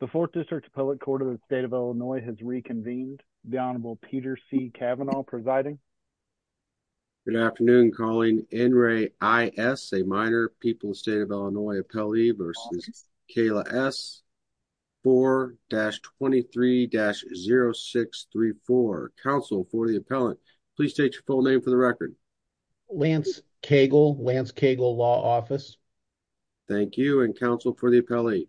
The 4th District's Appellate Court of the State of Illinois has reconvened. The Honorable Peter C. Kavanaugh presiding. Good afternoon, calling N. Ray I. S., a minor, People's State of Illinois appellee, versus Kayla S. 4-23-0634. Counsel for the appellant, please state your full name for the record. Lance Cagle, Lance Cagle Law Office. Thank you, and counsel for the appellate.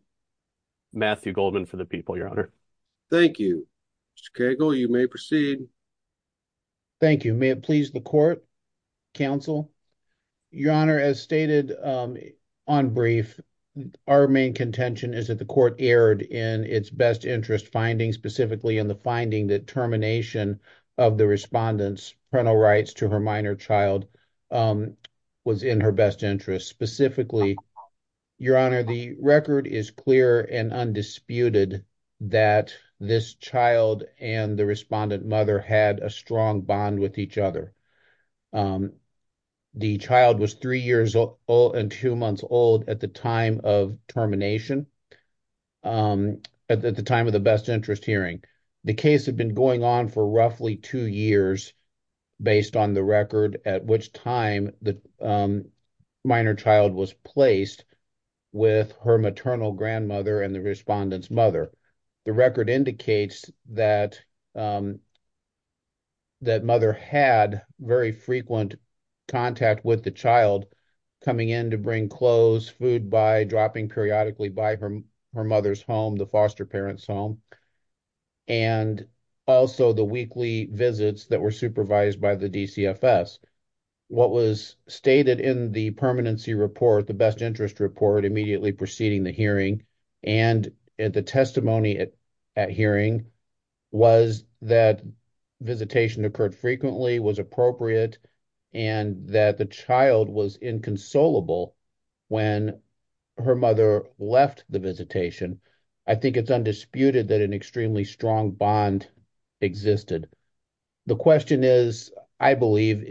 Matthew Goldman for the people, your honor. Thank you. Mr. Cagle, you may proceed. Thank you. May it please the court, counsel? Your honor, as stated on brief, our main contention is that the court erred in its best interest finding, specifically in the finding that termination of the respondent's parental rights to her minor child was in her best interest, specifically, your honor, the record is clear and undisputed that this child and the respondent mother had a strong bond with each other. The child was three years old and two months old at the time of termination, at the time of the best interest hearing. The case had been going on for roughly two years, based on the record, at which time the minor child was placed with her maternal grandmother and the respondent's mother. The record indicates that mother had very frequent contact with the child, coming in to bring clothes, food by, dropping periodically by her mother's home, the foster parent's home, and also the weekly visits that were supervised by the DCFS. What was stated in the permanency report, the best interest report, immediately preceding the hearing and the testimony at hearing was that visitation occurred frequently, was the visitation. I think it's undisputed that an extremely strong bond existed. The question is, I believe,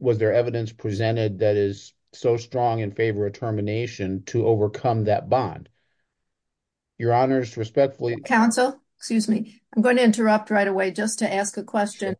was there evidence presented that is so strong in favor of termination to overcome that bond? Your honors, respectfully, counsel, excuse me, I'm going to interrupt right away just to ask a question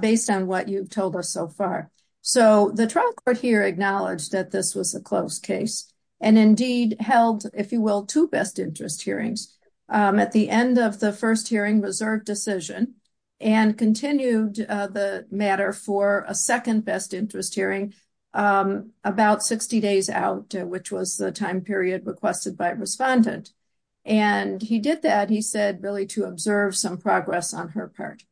based on what you've told us so far. So the trial court here acknowledged that this was a closed case and indeed held, if you will, two best interest hearings at the end of the first hearing reserve decision and continued the matter for a second best interest hearing about 60 days out, which was the time period requested by respondent. And he did that, he said, really to observe some progress on her part.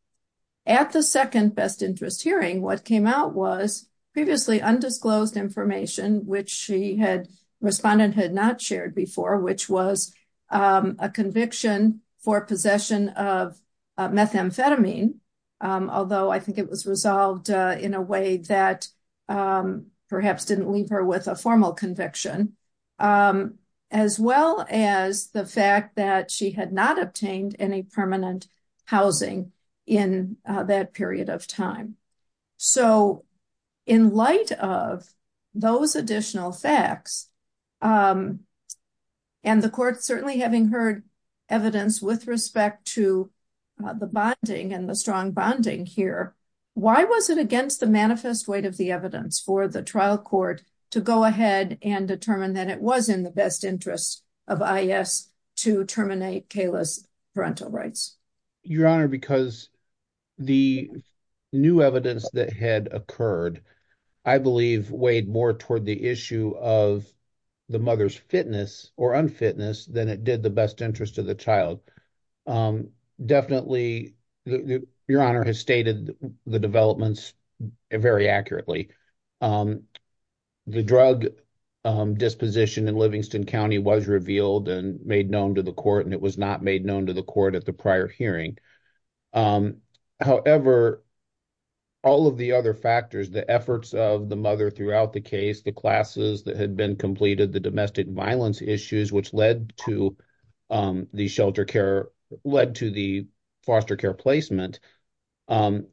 At the second best interest hearing, what came out was previously undisclosed information, which she had, respondent had not shared before, which was a conviction for possession of methamphetamine. Although I think it was resolved in a way that perhaps didn't leave her with a formal conviction, as well as the fact that she had not obtained any permanent housing in that period of time. So in light of those additional facts, and the court certainly having heard evidence with respect to the bonding and the strong bonding here, why was it against the manifest weight of the evidence for the trial court to go ahead and determine that it was in the best interest of IS to terminate Kayla's parental rights? Your Honor, because the new evidence that had occurred, I believe weighed more toward the issue of the mother's fitness or unfitness than it did the best interest of the child. Definitely, Your Honor has stated the developments very accurately. The drug disposition in Livingston County was revealed and made known to the court, and it was not made known to the court at the prior hearing. However, all of the other factors, the efforts of the mother throughout the case, the classes that had been completed, the domestic violence issues which led to the foster care placement,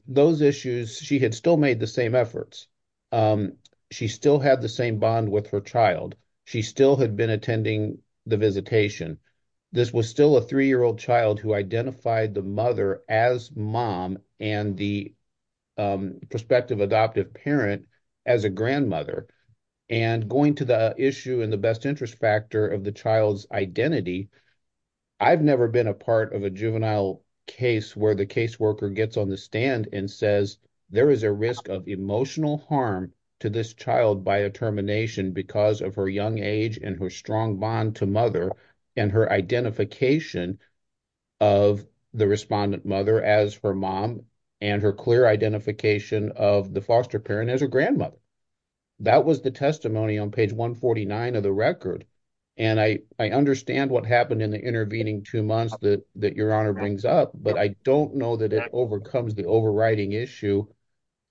those issues, she had still made the same efforts. She still had the same bond with her child. She still had been attending the visitation. This was still a three-year-old child who identified the mother as mom and the prospective adoptive parent as a grandmother. Going to the issue and the best interest factor of the child's identity, I've never been a part of a juvenile case where the caseworker gets on the stand and says there is a risk of emotional harm to this child by a termination because of her young age and her strong bond to mother and her identification of the respondent mother as her mom and her clear identification of the foster parent as her grandmother. That was the testimony on page 149 of the record. I understand what happened in the intervening two months that Your Honor brings up, but I don't know that it overcomes the overriding issue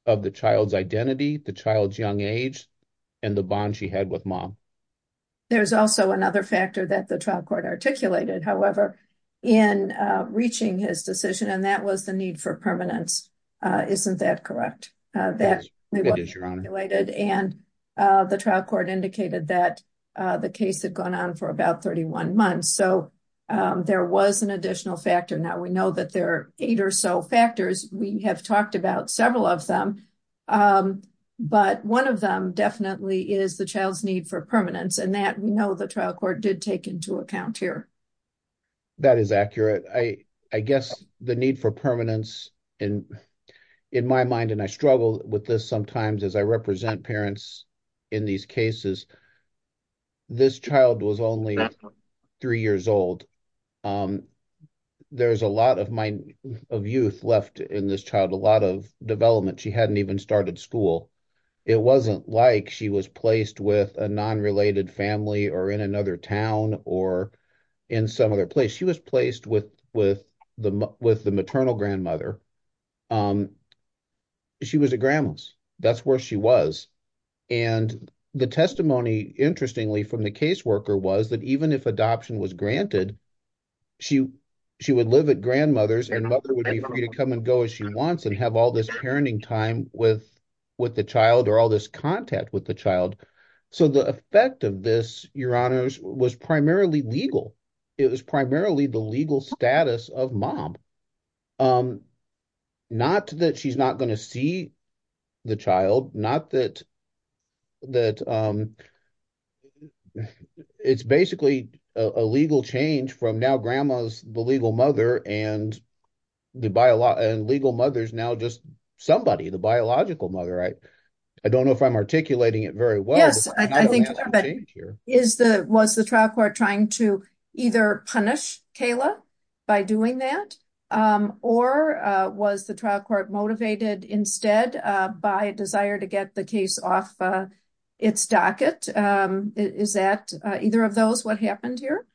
of the child's identity, the child's young age, and the bond she had with mom. There's also another factor that the trial court articulated, however, in reaching his decision, and that was the need for permanence. Isn't that correct? And the trial court indicated that the case had gone on for about 31 months, so there was an additional factor. Now, we know that there are eight or so factors. We have talked about several of them, but one of them definitely is the child's need for permanence, and that we know the trial court did take into account here. That is accurate. I guess the need for permanence in my mind, and I struggle with this sometimes as I represent parents in these cases, this child was only three years old. There's a lot of youth left in this child, a lot of development. She hadn't even started school. It wasn't like she was placed with a non-related family or in another town or in some other place. She was placed with the maternal grandmother. She was at grandma's. That's where she was, and the testimony, interestingly, from the caseworker was that even if adoption was granted, she would live at grandmother's, and mother would be free to come and go as she wants and have all this parenting time with the child or all this contact with the child. So, the effect of this, Your Honors, was primarily legal. It was primarily the legal not that she's not going to see the child, not that it's basically a legal change from now grandma's the legal mother, and the legal mother's now just somebody, the biological mother. I don't know if I'm articulating it very well. Yes, I think so, but was the trial court trying to either punish Kayla by doing that, or was the trial court motivated instead by a desire to get the case off its docket? Is that, either of those, what happened here?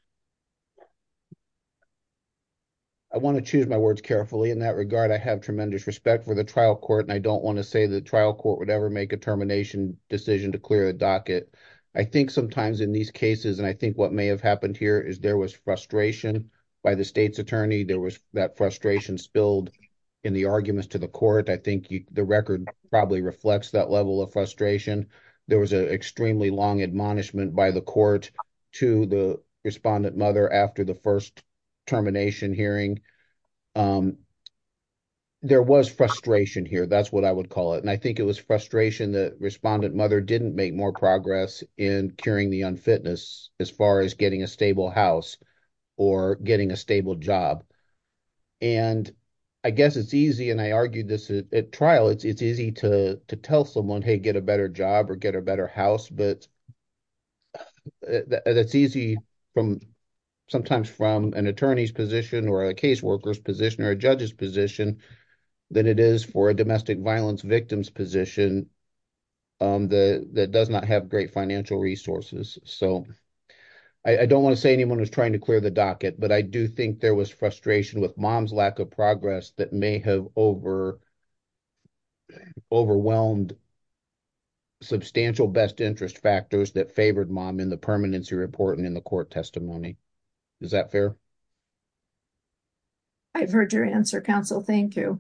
I want to choose my words carefully. In that regard, I have tremendous respect for the trial court, and I don't want to say the trial court would ever make a termination decision to clear a docket. I think sometimes in these cases, and I think what may have happened here, is there was frustration by the state's attorney. There was that frustration spilled in the arguments to the court. I think the record probably reflects that level of frustration. There was an extremely long admonishment by the court to the respondent mother after the first termination hearing. There was frustration here. That's what I would call it, and I think it was frustration that respondent mother didn't make more progress in curing the unfitness as far as getting a stable house or getting a stable job. I guess it's easy, and I argued this at trial, it's easy to tell someone, hey, get a better job or get a better house, but that's easy sometimes from an attorney's position or a caseworker's position or a judge's position than it is for a domestic violence victim's position that does not have great financial resources. I don't want to say clear the docket, but I do think there was frustration with mom's lack of progress that may have over overwhelmed substantial best interest factors that favored mom in the permanency report and in the court testimony. Is that fair? I've heard your answer, counsel. Thank you.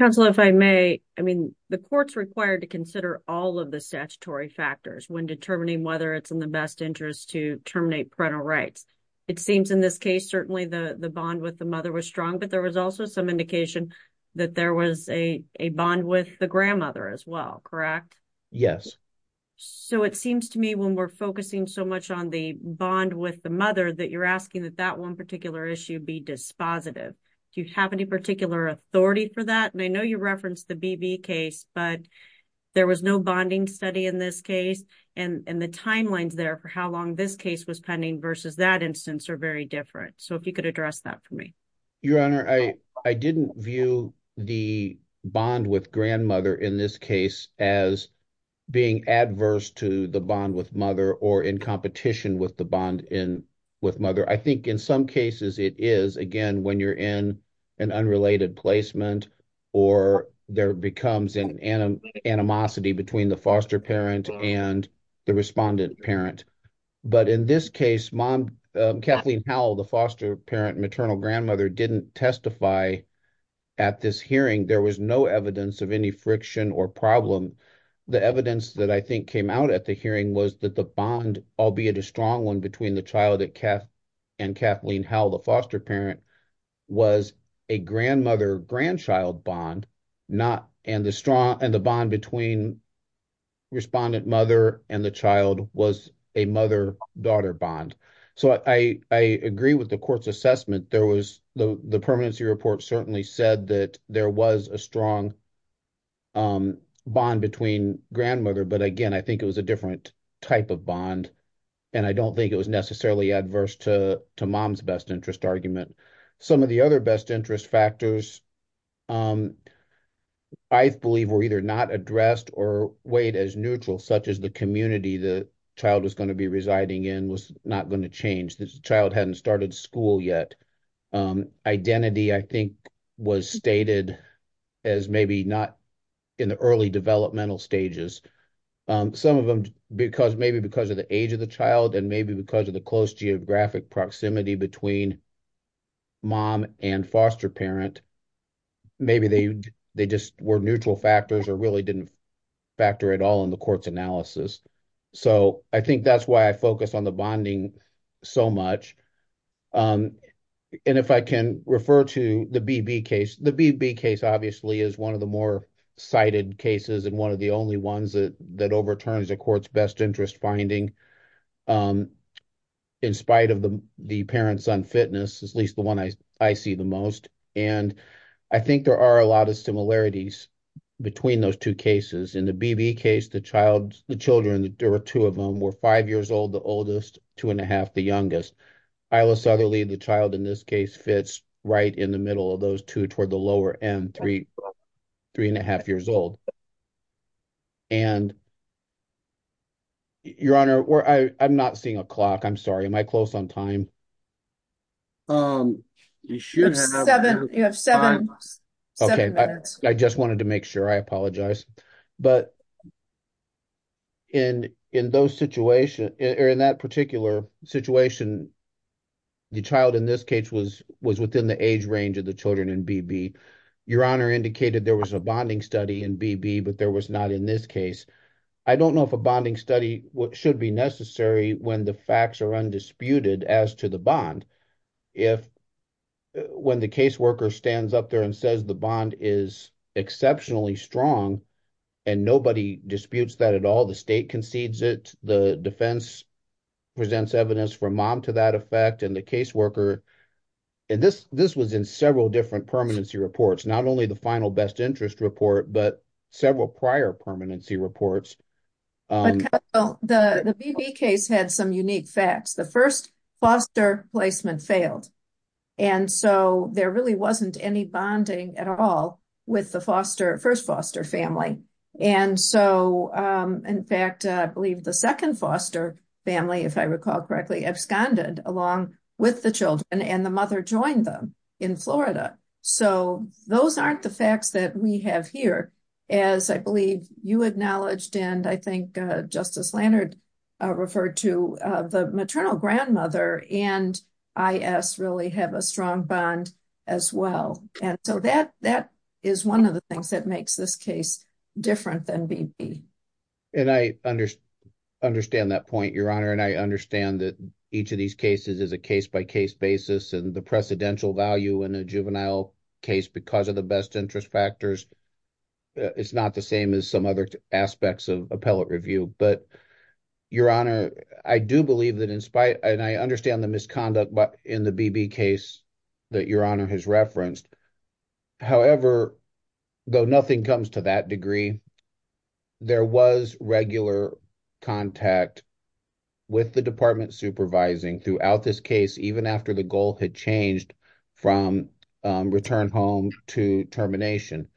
Counsel, if I may, I mean, the court's required to consider all of the statutory factors when determining whether it's in the best interest to terminate parental rights. It seems in this case certainly the bond with the mother was strong, but there was also some indication that there was a bond with the grandmother as well, correct? Yes. So it seems to me when we're focusing so much on the bond with the mother that you're asking that that one particular issue be dispositive. Do you have any particular authority for that? And I know you referenced the BB case, but there was no bonding study in this case, and the timelines there for how long this case was pending versus that instance are very different. So if you could address that for me. Your Honor, I didn't view the bond with grandmother in this case as being adverse to the bond with mother or in competition with the bond with mother. I think in some cases it is, again, when you're in an unrelated placement or there becomes an animosity between the foster parent and the respondent parent. But in this case, Kathleen Howell, the foster parent, maternal grandmother, didn't testify at this hearing. There was no evidence of any friction or problem. The evidence that I think came out at the hearing was that the bond, albeit a strong one, between the child and Kathleen Howell, the foster parent, was a grandmother-grandchild bond and the bond between respondent mother and the child was a mother-daughter bond. So I agree with the court's assessment. The permanency report certainly said that there was a strong bond between grandmother, but again, I think it was a different type of bond, and I don't think it was necessarily adverse to mom's best interest argument. Some of the other best interest factors I believe were either not addressed or weighed as neutral, such as the community the child was going to be residing in was not going to change. The child hadn't started school yet. Identity, I think, was stated as maybe not in the early developmental stages. Some of them, maybe because of the age of the child and maybe because of the close geographic proximity between mom and foster parent, maybe they just were neutral factors or really didn't factor at all in the court's analysis. So I think that's why I focus on the bonding so much. And if I can refer to the BB case, the BB case obviously is one of the more that overturns the court's best interest finding in spite of the parent-son fitness, at least the one I see the most. And I think there are a lot of similarities between those two cases. In the BB case, the children, there were two of them, were five years old, the oldest, two and a half, the youngest. Isla Southerly, the child in this case, fits right in the middle of those two toward the lower end, three and a half years old. And Your Honor, I'm not seeing a clock. I'm sorry. Am I close on time? You have seven minutes. Okay. I just wanted to make sure. I apologize. But in that particular situation, the child in this case was within the age range of the your Honor indicated there was a bonding study in BB, but there was not in this case. I don't know if a bonding study should be necessary when the facts are undisputed as to the bond. If when the caseworker stands up there and says the bond is exceptionally strong and nobody disputes that at all, the state concedes it, the defense presents evidence for mom to that not only the final best interest report, but several prior permanency reports. The BB case had some unique facts. The first foster placement failed. And so there really wasn't any bonding at all with the first foster family. And so in fact, I believe the second foster family, if I recall correctly, absconded along with the children and the mother joined them in Florida. So those aren't the facts that we have here. As I believe you acknowledged, and I think Justice Lannert referred to the maternal grandmother and IS really have a strong bond as well. And so that is one of the things that makes this case different than BB. And I understand that point, your Honor. And I understand that each of these cases is a case by case basis and the precedential value in a juvenile case because of the best interest factors. It's not the same as some other aspects of appellate review, but your Honor, I do believe that in spite and I understand the misconduct in the BB case that your Honor has referenced. However, though nothing comes to that degree, there was regular contact with the department supervising throughout this case, even after the goal had changed from return home to termination.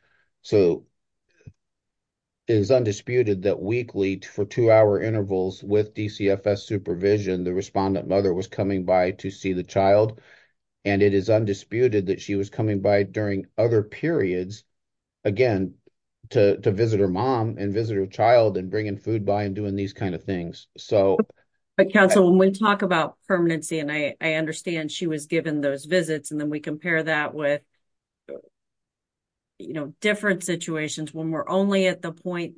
So it is undisputed that weekly for two hour intervals with DCFS supervision, the respondent mother was coming by to see the child. And it is undisputed that she was coming by during other periods, again, to visit her mom and visit her child and bringing food by and doing these kind of things. So... But counsel, when we talk about permanency, and I understand she was given those visits, and then we compare that with, you know, different situations when we're only at the point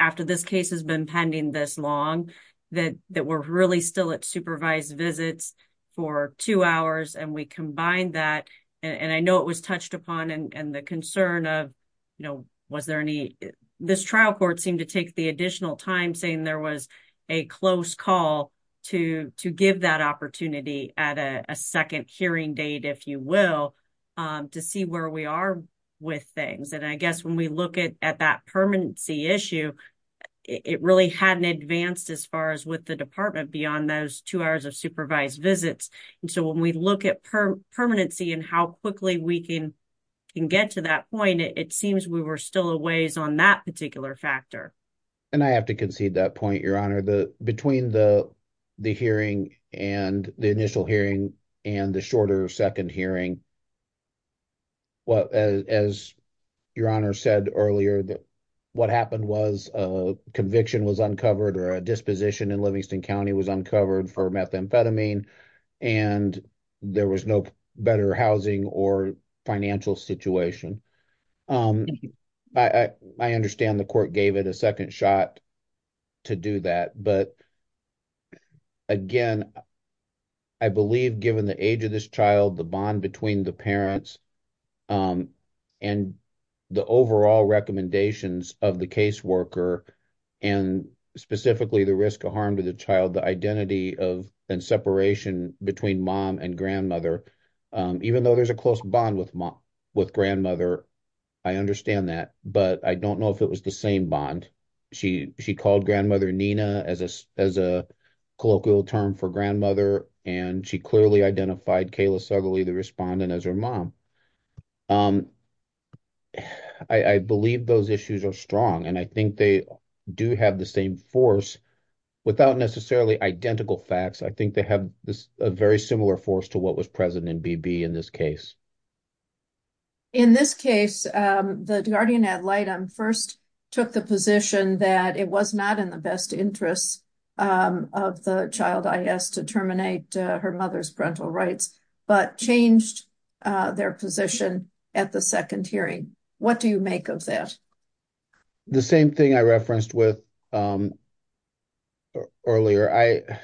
after this case has been pending this long, that we're really still at supervised visits for two hours and we combine that. And I know it was touched upon and the concern of, you know, was there any... This trial court seemed to take the additional time saying there was a close call to give that opportunity at a second hearing date, if you will, to see where we are with things. And I guess when we look at that permanency issue, it really hadn't advanced as far as with the department beyond those two hours of supervised visits. And so when we look at permanency and how quickly we can get to that point, it seems we were still a ways on that particular factor. And I have to concede that point, Your Honor. Between the hearing and the initial hearing and the shorter second hearing, as Your Honor said earlier, what happened was a conviction was uncovered or a disposition in Livingston County was uncovered for methamphetamine, and there was no better housing or financial situation. I understand the court gave it a second shot to do that, but again, I believe given the age of this child, the bond between the parents and the overall recommendations of the caseworker and specifically the risk of harm to the child, the identity and separation between mom and grandmother, even though there's a close bond with grandmother, I understand that, but I don't know if it was the same bond. She called grandmother Nina as a colloquial term for grandmother, and she clearly identified Kayla Southerly, the respondent, as her mom. I believe those issues are strong, and I think they do have the same force without necessarily identical facts. I think they have a very similar force to what was present in BB in this case. In this case, the guardian ad litem first took the position that it was not in the best interests of the child IS to terminate her mother's parental rights, but changed their position at the second hearing. What do you make of that? The same thing I referenced earlier.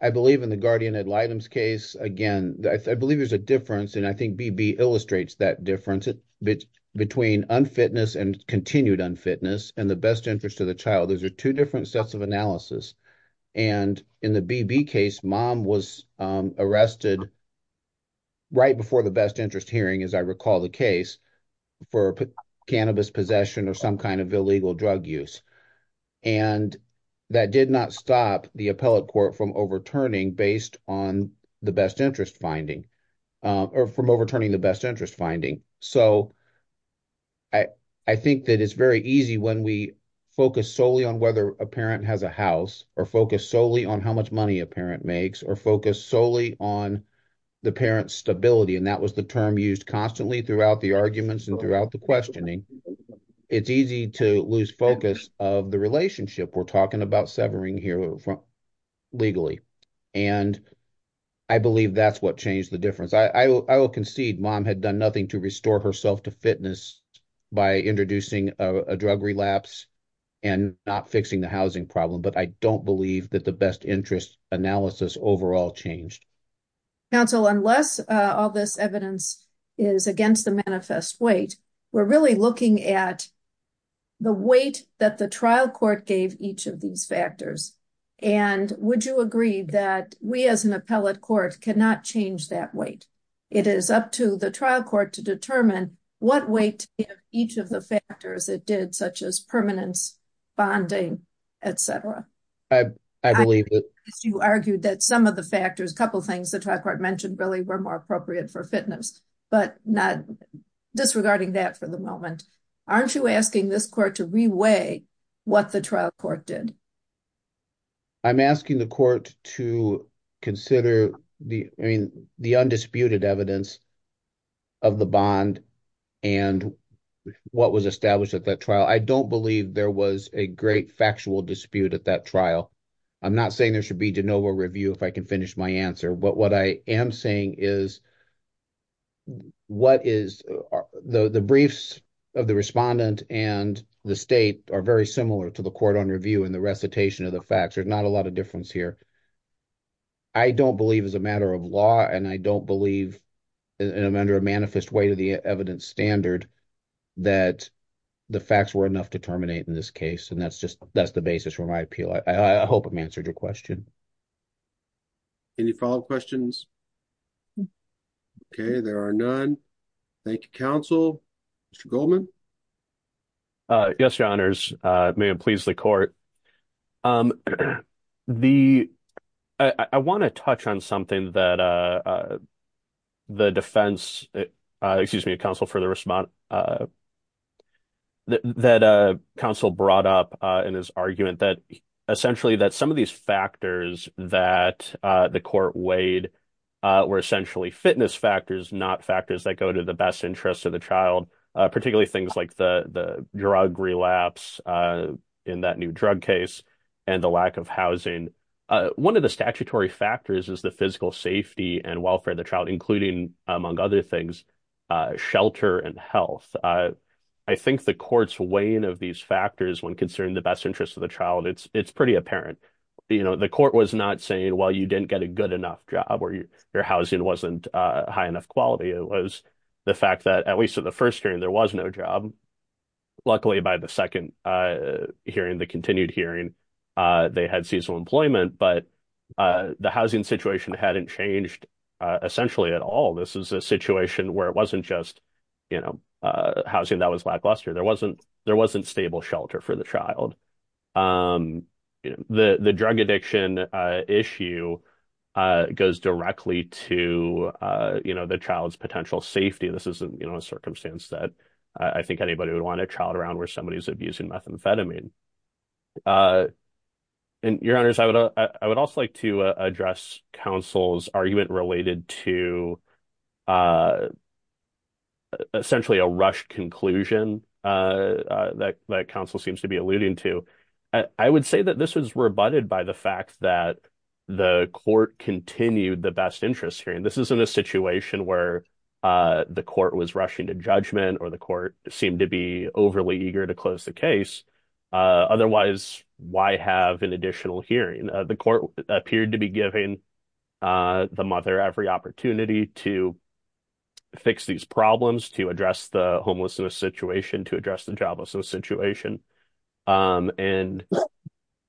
I believe in the guardian ad litem's case, again, I believe there's a difference, and I think BB illustrates that difference between unfitness and continued unfitness and the best interest of the child. Those are two different sets of analysis, and in the BB case, mom was arrested right before the best interest hearing, as I recall the case, for cannabis possession or some kind of illegal drug use. That did not stop the appellate court from overturning based on the best interest finding, or from overturning the best interest finding. I think that it's very easy when we focus solely on whether a parent has a house, or focus solely on how much money a parent makes, or focus solely on the parent's stability, and that was the term used constantly throughout the arguments and throughout the questioning. It's easy to lose focus of the relationship. We're talking about severing here legally, and I believe that's what changed the difference. I will concede mom had done nothing to restore herself to fitness by introducing a drug relapse and not fixing the change. Counsel, unless all this evidence is against the manifest weight, we're really looking at the weight that the trial court gave each of these factors, and would you agree that we, as an appellate court, cannot change that weight? It is up to the trial court to determine what weight each of the factors it did, such as permanence, bonding, etc. I believe that you argued that some of the factors, a couple things the trial court mentioned, really were more appropriate for fitness, but not disregarding that for the moment. Aren't you asking this court to re-weigh what the trial court did? I'm asking the court to consider the undisputed evidence of the bond and what was established at that trial. I don't believe there was a great factual dispute at that trial. I'm not saying there should be de novo review if I can finish my answer, but what I am saying is the briefs of the respondent and the state are very similar to the court on review and the recitation of the facts. There's not a lot of difference here. I don't believe as a matter of law, and I don't believe under a manifest weight of the evidence standard, that the facts were enough to terminate in this case. That's the basis for my appeal. I hope I've answered your question. Any follow-up questions? Okay, there are none. Thank you, counsel. Mr. Goldman? Yes, your honors. May it please the court. I want to touch on something that the defense, excuse me, counsel for the respondent, that counsel brought up in his argument that essentially that some of these factors that the court weighed were essentially fitness factors, not factors that go to the best interest of the child, particularly things like the drug relapse in that new drug case and the lack of housing. One of the statutory factors is physical safety and welfare of the child, including, among other things, shelter and health. I think the court's weighing of these factors when considering the best interest of the child, it's pretty apparent. The court was not saying, well, you didn't get a good enough job or your housing wasn't high enough quality. It was the fact that at least in the first hearing there was no job. Luckily, by the second hearing, the continued hearing, they had seasonal employment, but the housing situation hadn't changed essentially at all. This is a situation where it wasn't just housing that was lackluster. There wasn't stable shelter for the child. The drug addiction issue goes directly to the child's potential safety. This isn't a circumstance that I think anybody would want a child around where somebody is abusing methamphetamine. Your Honors, I would also like to address counsel's argument related to essentially a rushed conclusion that counsel seems to be alluding to. I would say that this was rebutted by the fact that the court continued the best interest hearing. This isn't a situation where the court was rushing to judgment or the court seemed to be overly eager to close the case. Otherwise, why have an additional hearing? The court appeared to be giving the mother every opportunity to fix these problems, to address the homelessness situation, to address the joblessness situation. I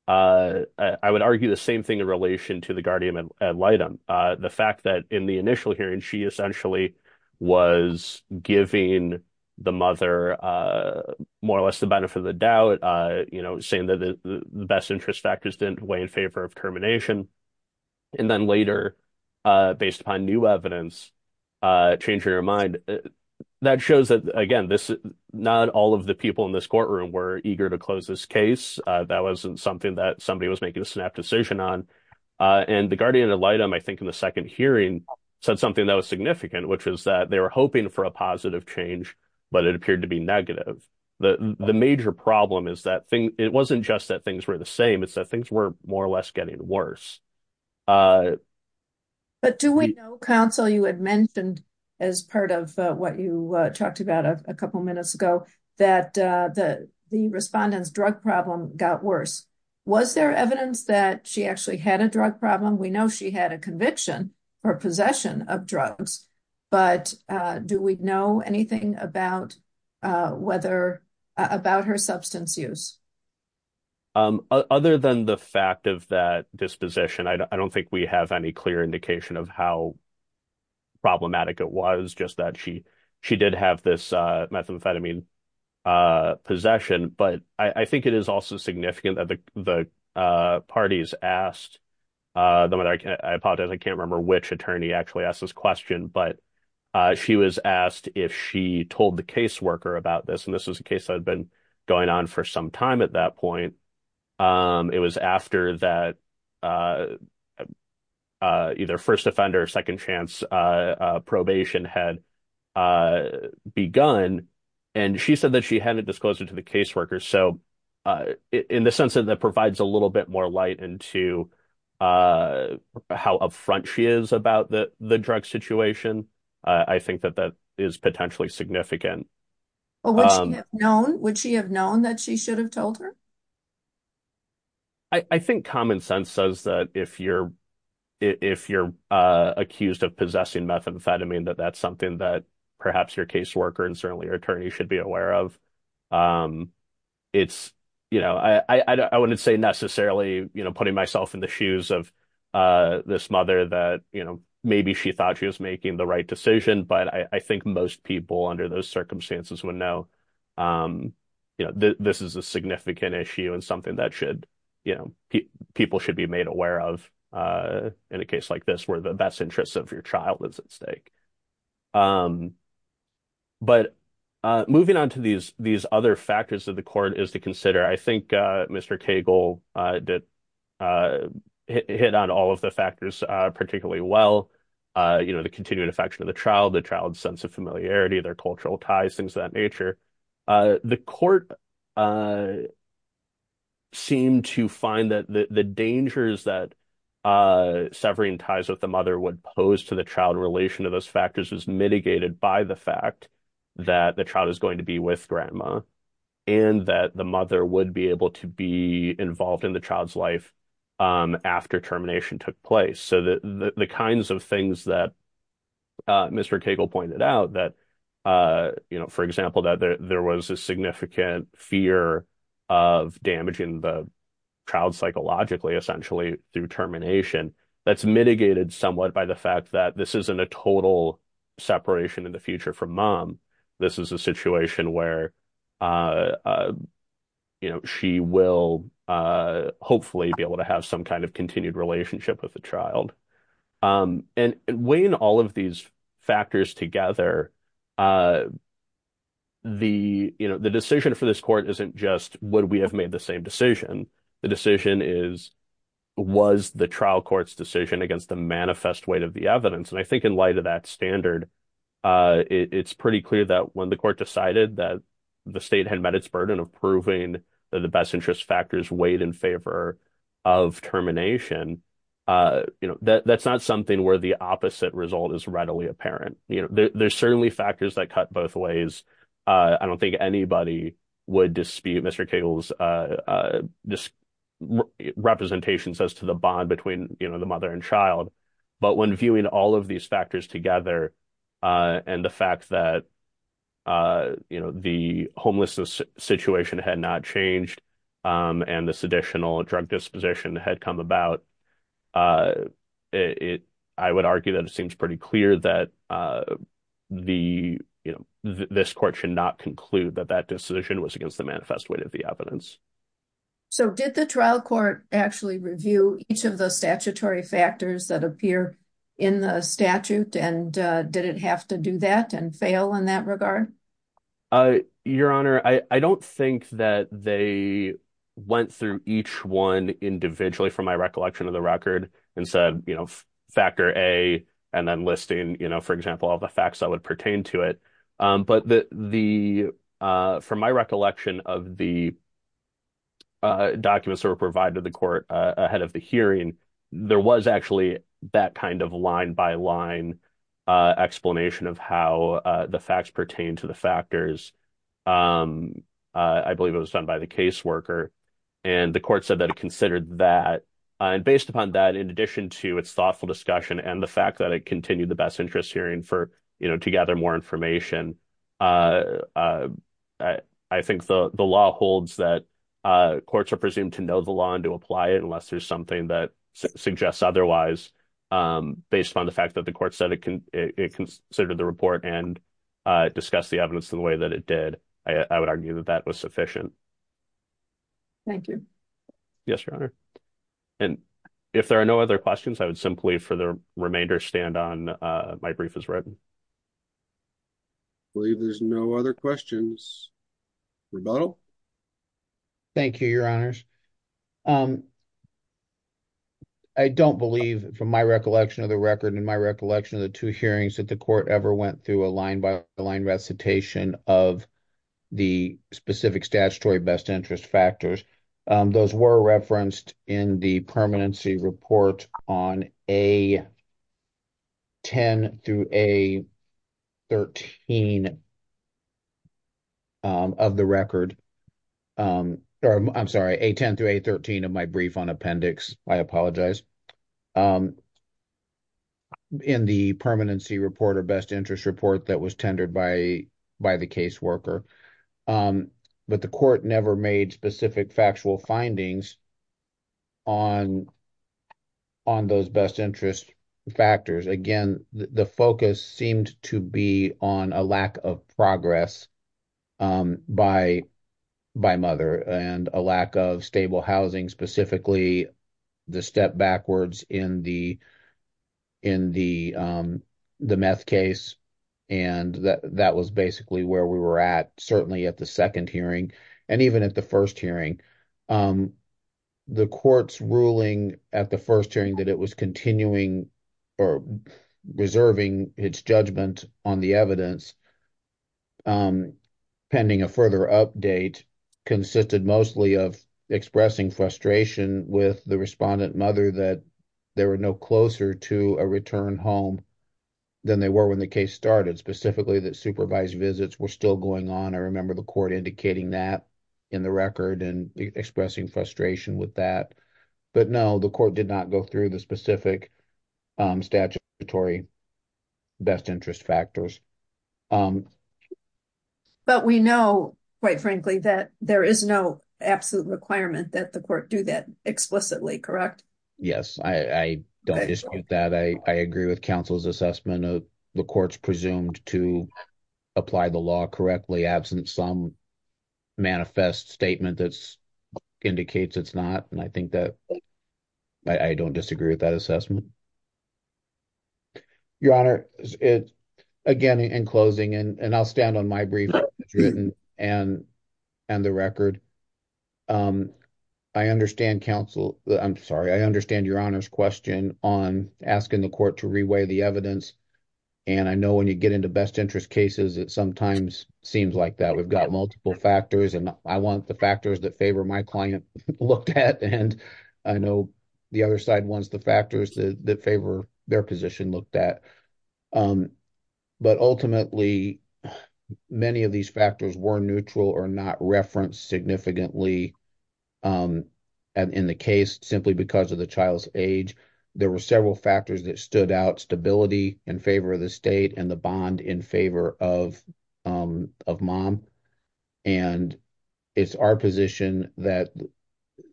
would argue the same thing in relation to the guardian ad litem. The fact that in the initial hearing, she essentially was giving the mother more or less the benefit of the saying that the best interest factors didn't weigh in favor of termination. Then later, based upon new evidence, changing her mind, that shows that again, not all of the people in this courtroom were eager to close this case. That wasn't something that somebody was making a snap decision on. The guardian ad litem, I think in the second hearing, said something that was significant, which is that they were hoping for a positive change, but it appeared to be negative. The major problem is that it wasn't just that things were the same, it's that things were more or less getting worse. Do we know, counsel, you had mentioned as part of what you talked about a couple minutes ago, that the respondent's drug problem got worse. Was there evidence that she actually had a drug about her substance use? Other than the fact of that disposition, I don't think we have any clear indication of how problematic it was, just that she did have this methamphetamine possession. I think it is also significant that the parties asked, though I apologize, I can't remember which attorney actually asked this question, but she was asked if she told the caseworker about this, and this was a case that had been going on for some time at that point. It was after that either first offender or second chance probation had begun, and she said that she hadn't disclosed it to the caseworker. In the sense that that provides a little bit more light into how upfront she is about the drug situation, I think that that is potentially significant. Would she have known that she should have told her? I think common sense says that if you're accused of possessing methamphetamine, that that's something that perhaps your caseworker and certainly your attorney should be aware of. I wouldn't say necessarily putting myself in the shoes of this mother that maybe she thought she was making the right decision, but I think most people under those circumstances would know that this is a significant issue and something that people should be made aware of in a case like this where the best interests of your child is at stake. But moving on to these other factors that the court is to consider, I think Mr. Cagle hit on all of the factors particularly well. You know, the continued affection of the child, the child's sense of familiarity, their cultural ties, things of that nature. The court seemed to find that the dangers that severing ties with the mother would pose to the child in relation to those factors was mitigated by the fact that the child is going to be with grandma and that the mother would be able to be involved in the child's life after termination took place. So the kinds of things that Mr. Cagle pointed out that, for example, that there was a significant fear of damaging the child psychologically essentially through termination, that's a total separation in the future from mom. This is a situation where she will hopefully be able to have some kind of continued relationship with the child. And weighing all of these factors together, the decision for this court isn't just would we have made the same decision. The decision is was the trial court's decision against the manifest weight of the evidence. And I think in light of that standard, it's pretty clear that when the court decided that the state had met its burden of proving that the best interest factors weighed in favor of termination, you know, that's not something where the opposite result is readily apparent. You know, there's certainly factors that cut both ways. I don't think anybody would dispute Mr. Cagle's representations as to the bond between, you know, the mother and child. But when viewing all of these factors together and the fact that, you know, the homelessness situation had not changed and this additional drug disposition had come about, I would argue that it seems pretty clear that the, you know, this court should not conclude that that decision was against the manifest weight of the evidence. So did the trial court actually review each of the statutory factors that appear in the statute and did it have to do that and fail in that regard? Your Honor, I don't think that they went through each one individually from my recollection of the record and said, you know, factor A and then listing, you know, for example, all the facts that would pertain to it. But from my recollection of the documents that were provided to the court ahead of the hearing, there was actually that kind of line-by-line explanation of how the facts pertain to the factors. I believe it was done by the caseworker and the court said that it considered that and based upon that in addition to its thoughtful discussion and the more information, I think the law holds that courts are presumed to know the law and to apply it unless there's something that suggests otherwise. Based upon the fact that the court said it considered the report and discussed the evidence in the way that it did, I would argue that that was sufficient. Thank you. Yes, Your Honor. And if there are no other questions, I would I believe there's no other questions. Rebuttal? Thank you, Your Honors. I don't believe from my recollection of the record and my recollection of the two hearings that the court ever went through a line-by-line recitation of the specific statutory best 13 of the record. I'm sorry, A10 through A13 of my brief on appendix. I apologize. In the permanency report or best interest report that was tendered by the caseworker, but the court never made specific factual findings on those best interest factors. Again, the focus seemed to be on a lack of progress by mother and a lack of stable housing, specifically the step backwards in the meth case. And that was basically where we were at, certainly at the second hearing and even at the first hearing. The court's ruling at the first hearing that it was continuing or reserving its judgment on the evidence pending a further update consisted mostly of expressing frustration with the respondent mother that they were no closer to a return home than they were when the case started, specifically that supervised visits were still going on. I remember the court indicating that in the record and expressing frustration with that. But no, the court did not go through the specific statutory best interest factors. But we know, quite frankly, that there is no absolute requirement that the court do that explicitly, correct? Yes, I don't dispute that. I agree with counsel's assessment of the court's presumed to apply the law correctly, absent some manifest statement that indicates it's not. And I think that I don't disagree with that assessment. Your Honor, again, in closing, and I'll stand on my brief written and and the record. I understand counsel. I'm sorry. I understand Your Honor's question on asking the court to reweigh the evidence. And I know when you get into best interest cases, it sometimes seems like that. We've got multiple factors, and I want the factors that favor my client looked at. And I know the other side wants the factors that favor their position looked at. But ultimately, many of these factors were neutral or not referenced significantly in the case, simply because of the child's age. There were several factors that stood out, stability in favor of the state and the bond in favor of mom. And it's our position that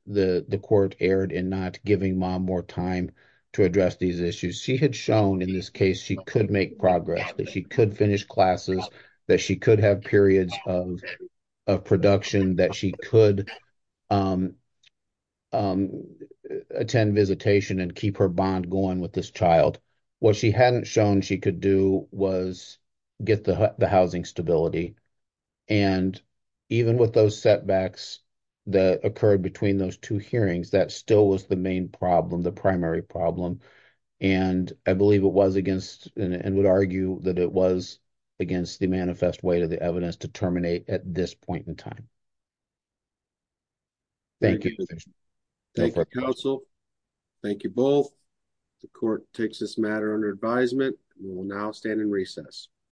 the court erred in not giving mom more time to address these issues. She had shown in this case she could make progress, that she could finish classes, that she could have periods of production, that she could attend visitation and keep her bond going with this child. What she hadn't shown she could do was get the housing stability. And even with those setbacks that occurred between those two hearings, that still was the main problem, the primary problem. And I believe it was against and would argue that it was against the manifest weight of the court. Thank you. Thank you, counsel. Thank you both. The court takes this matter under advisement. We will now stand in recess.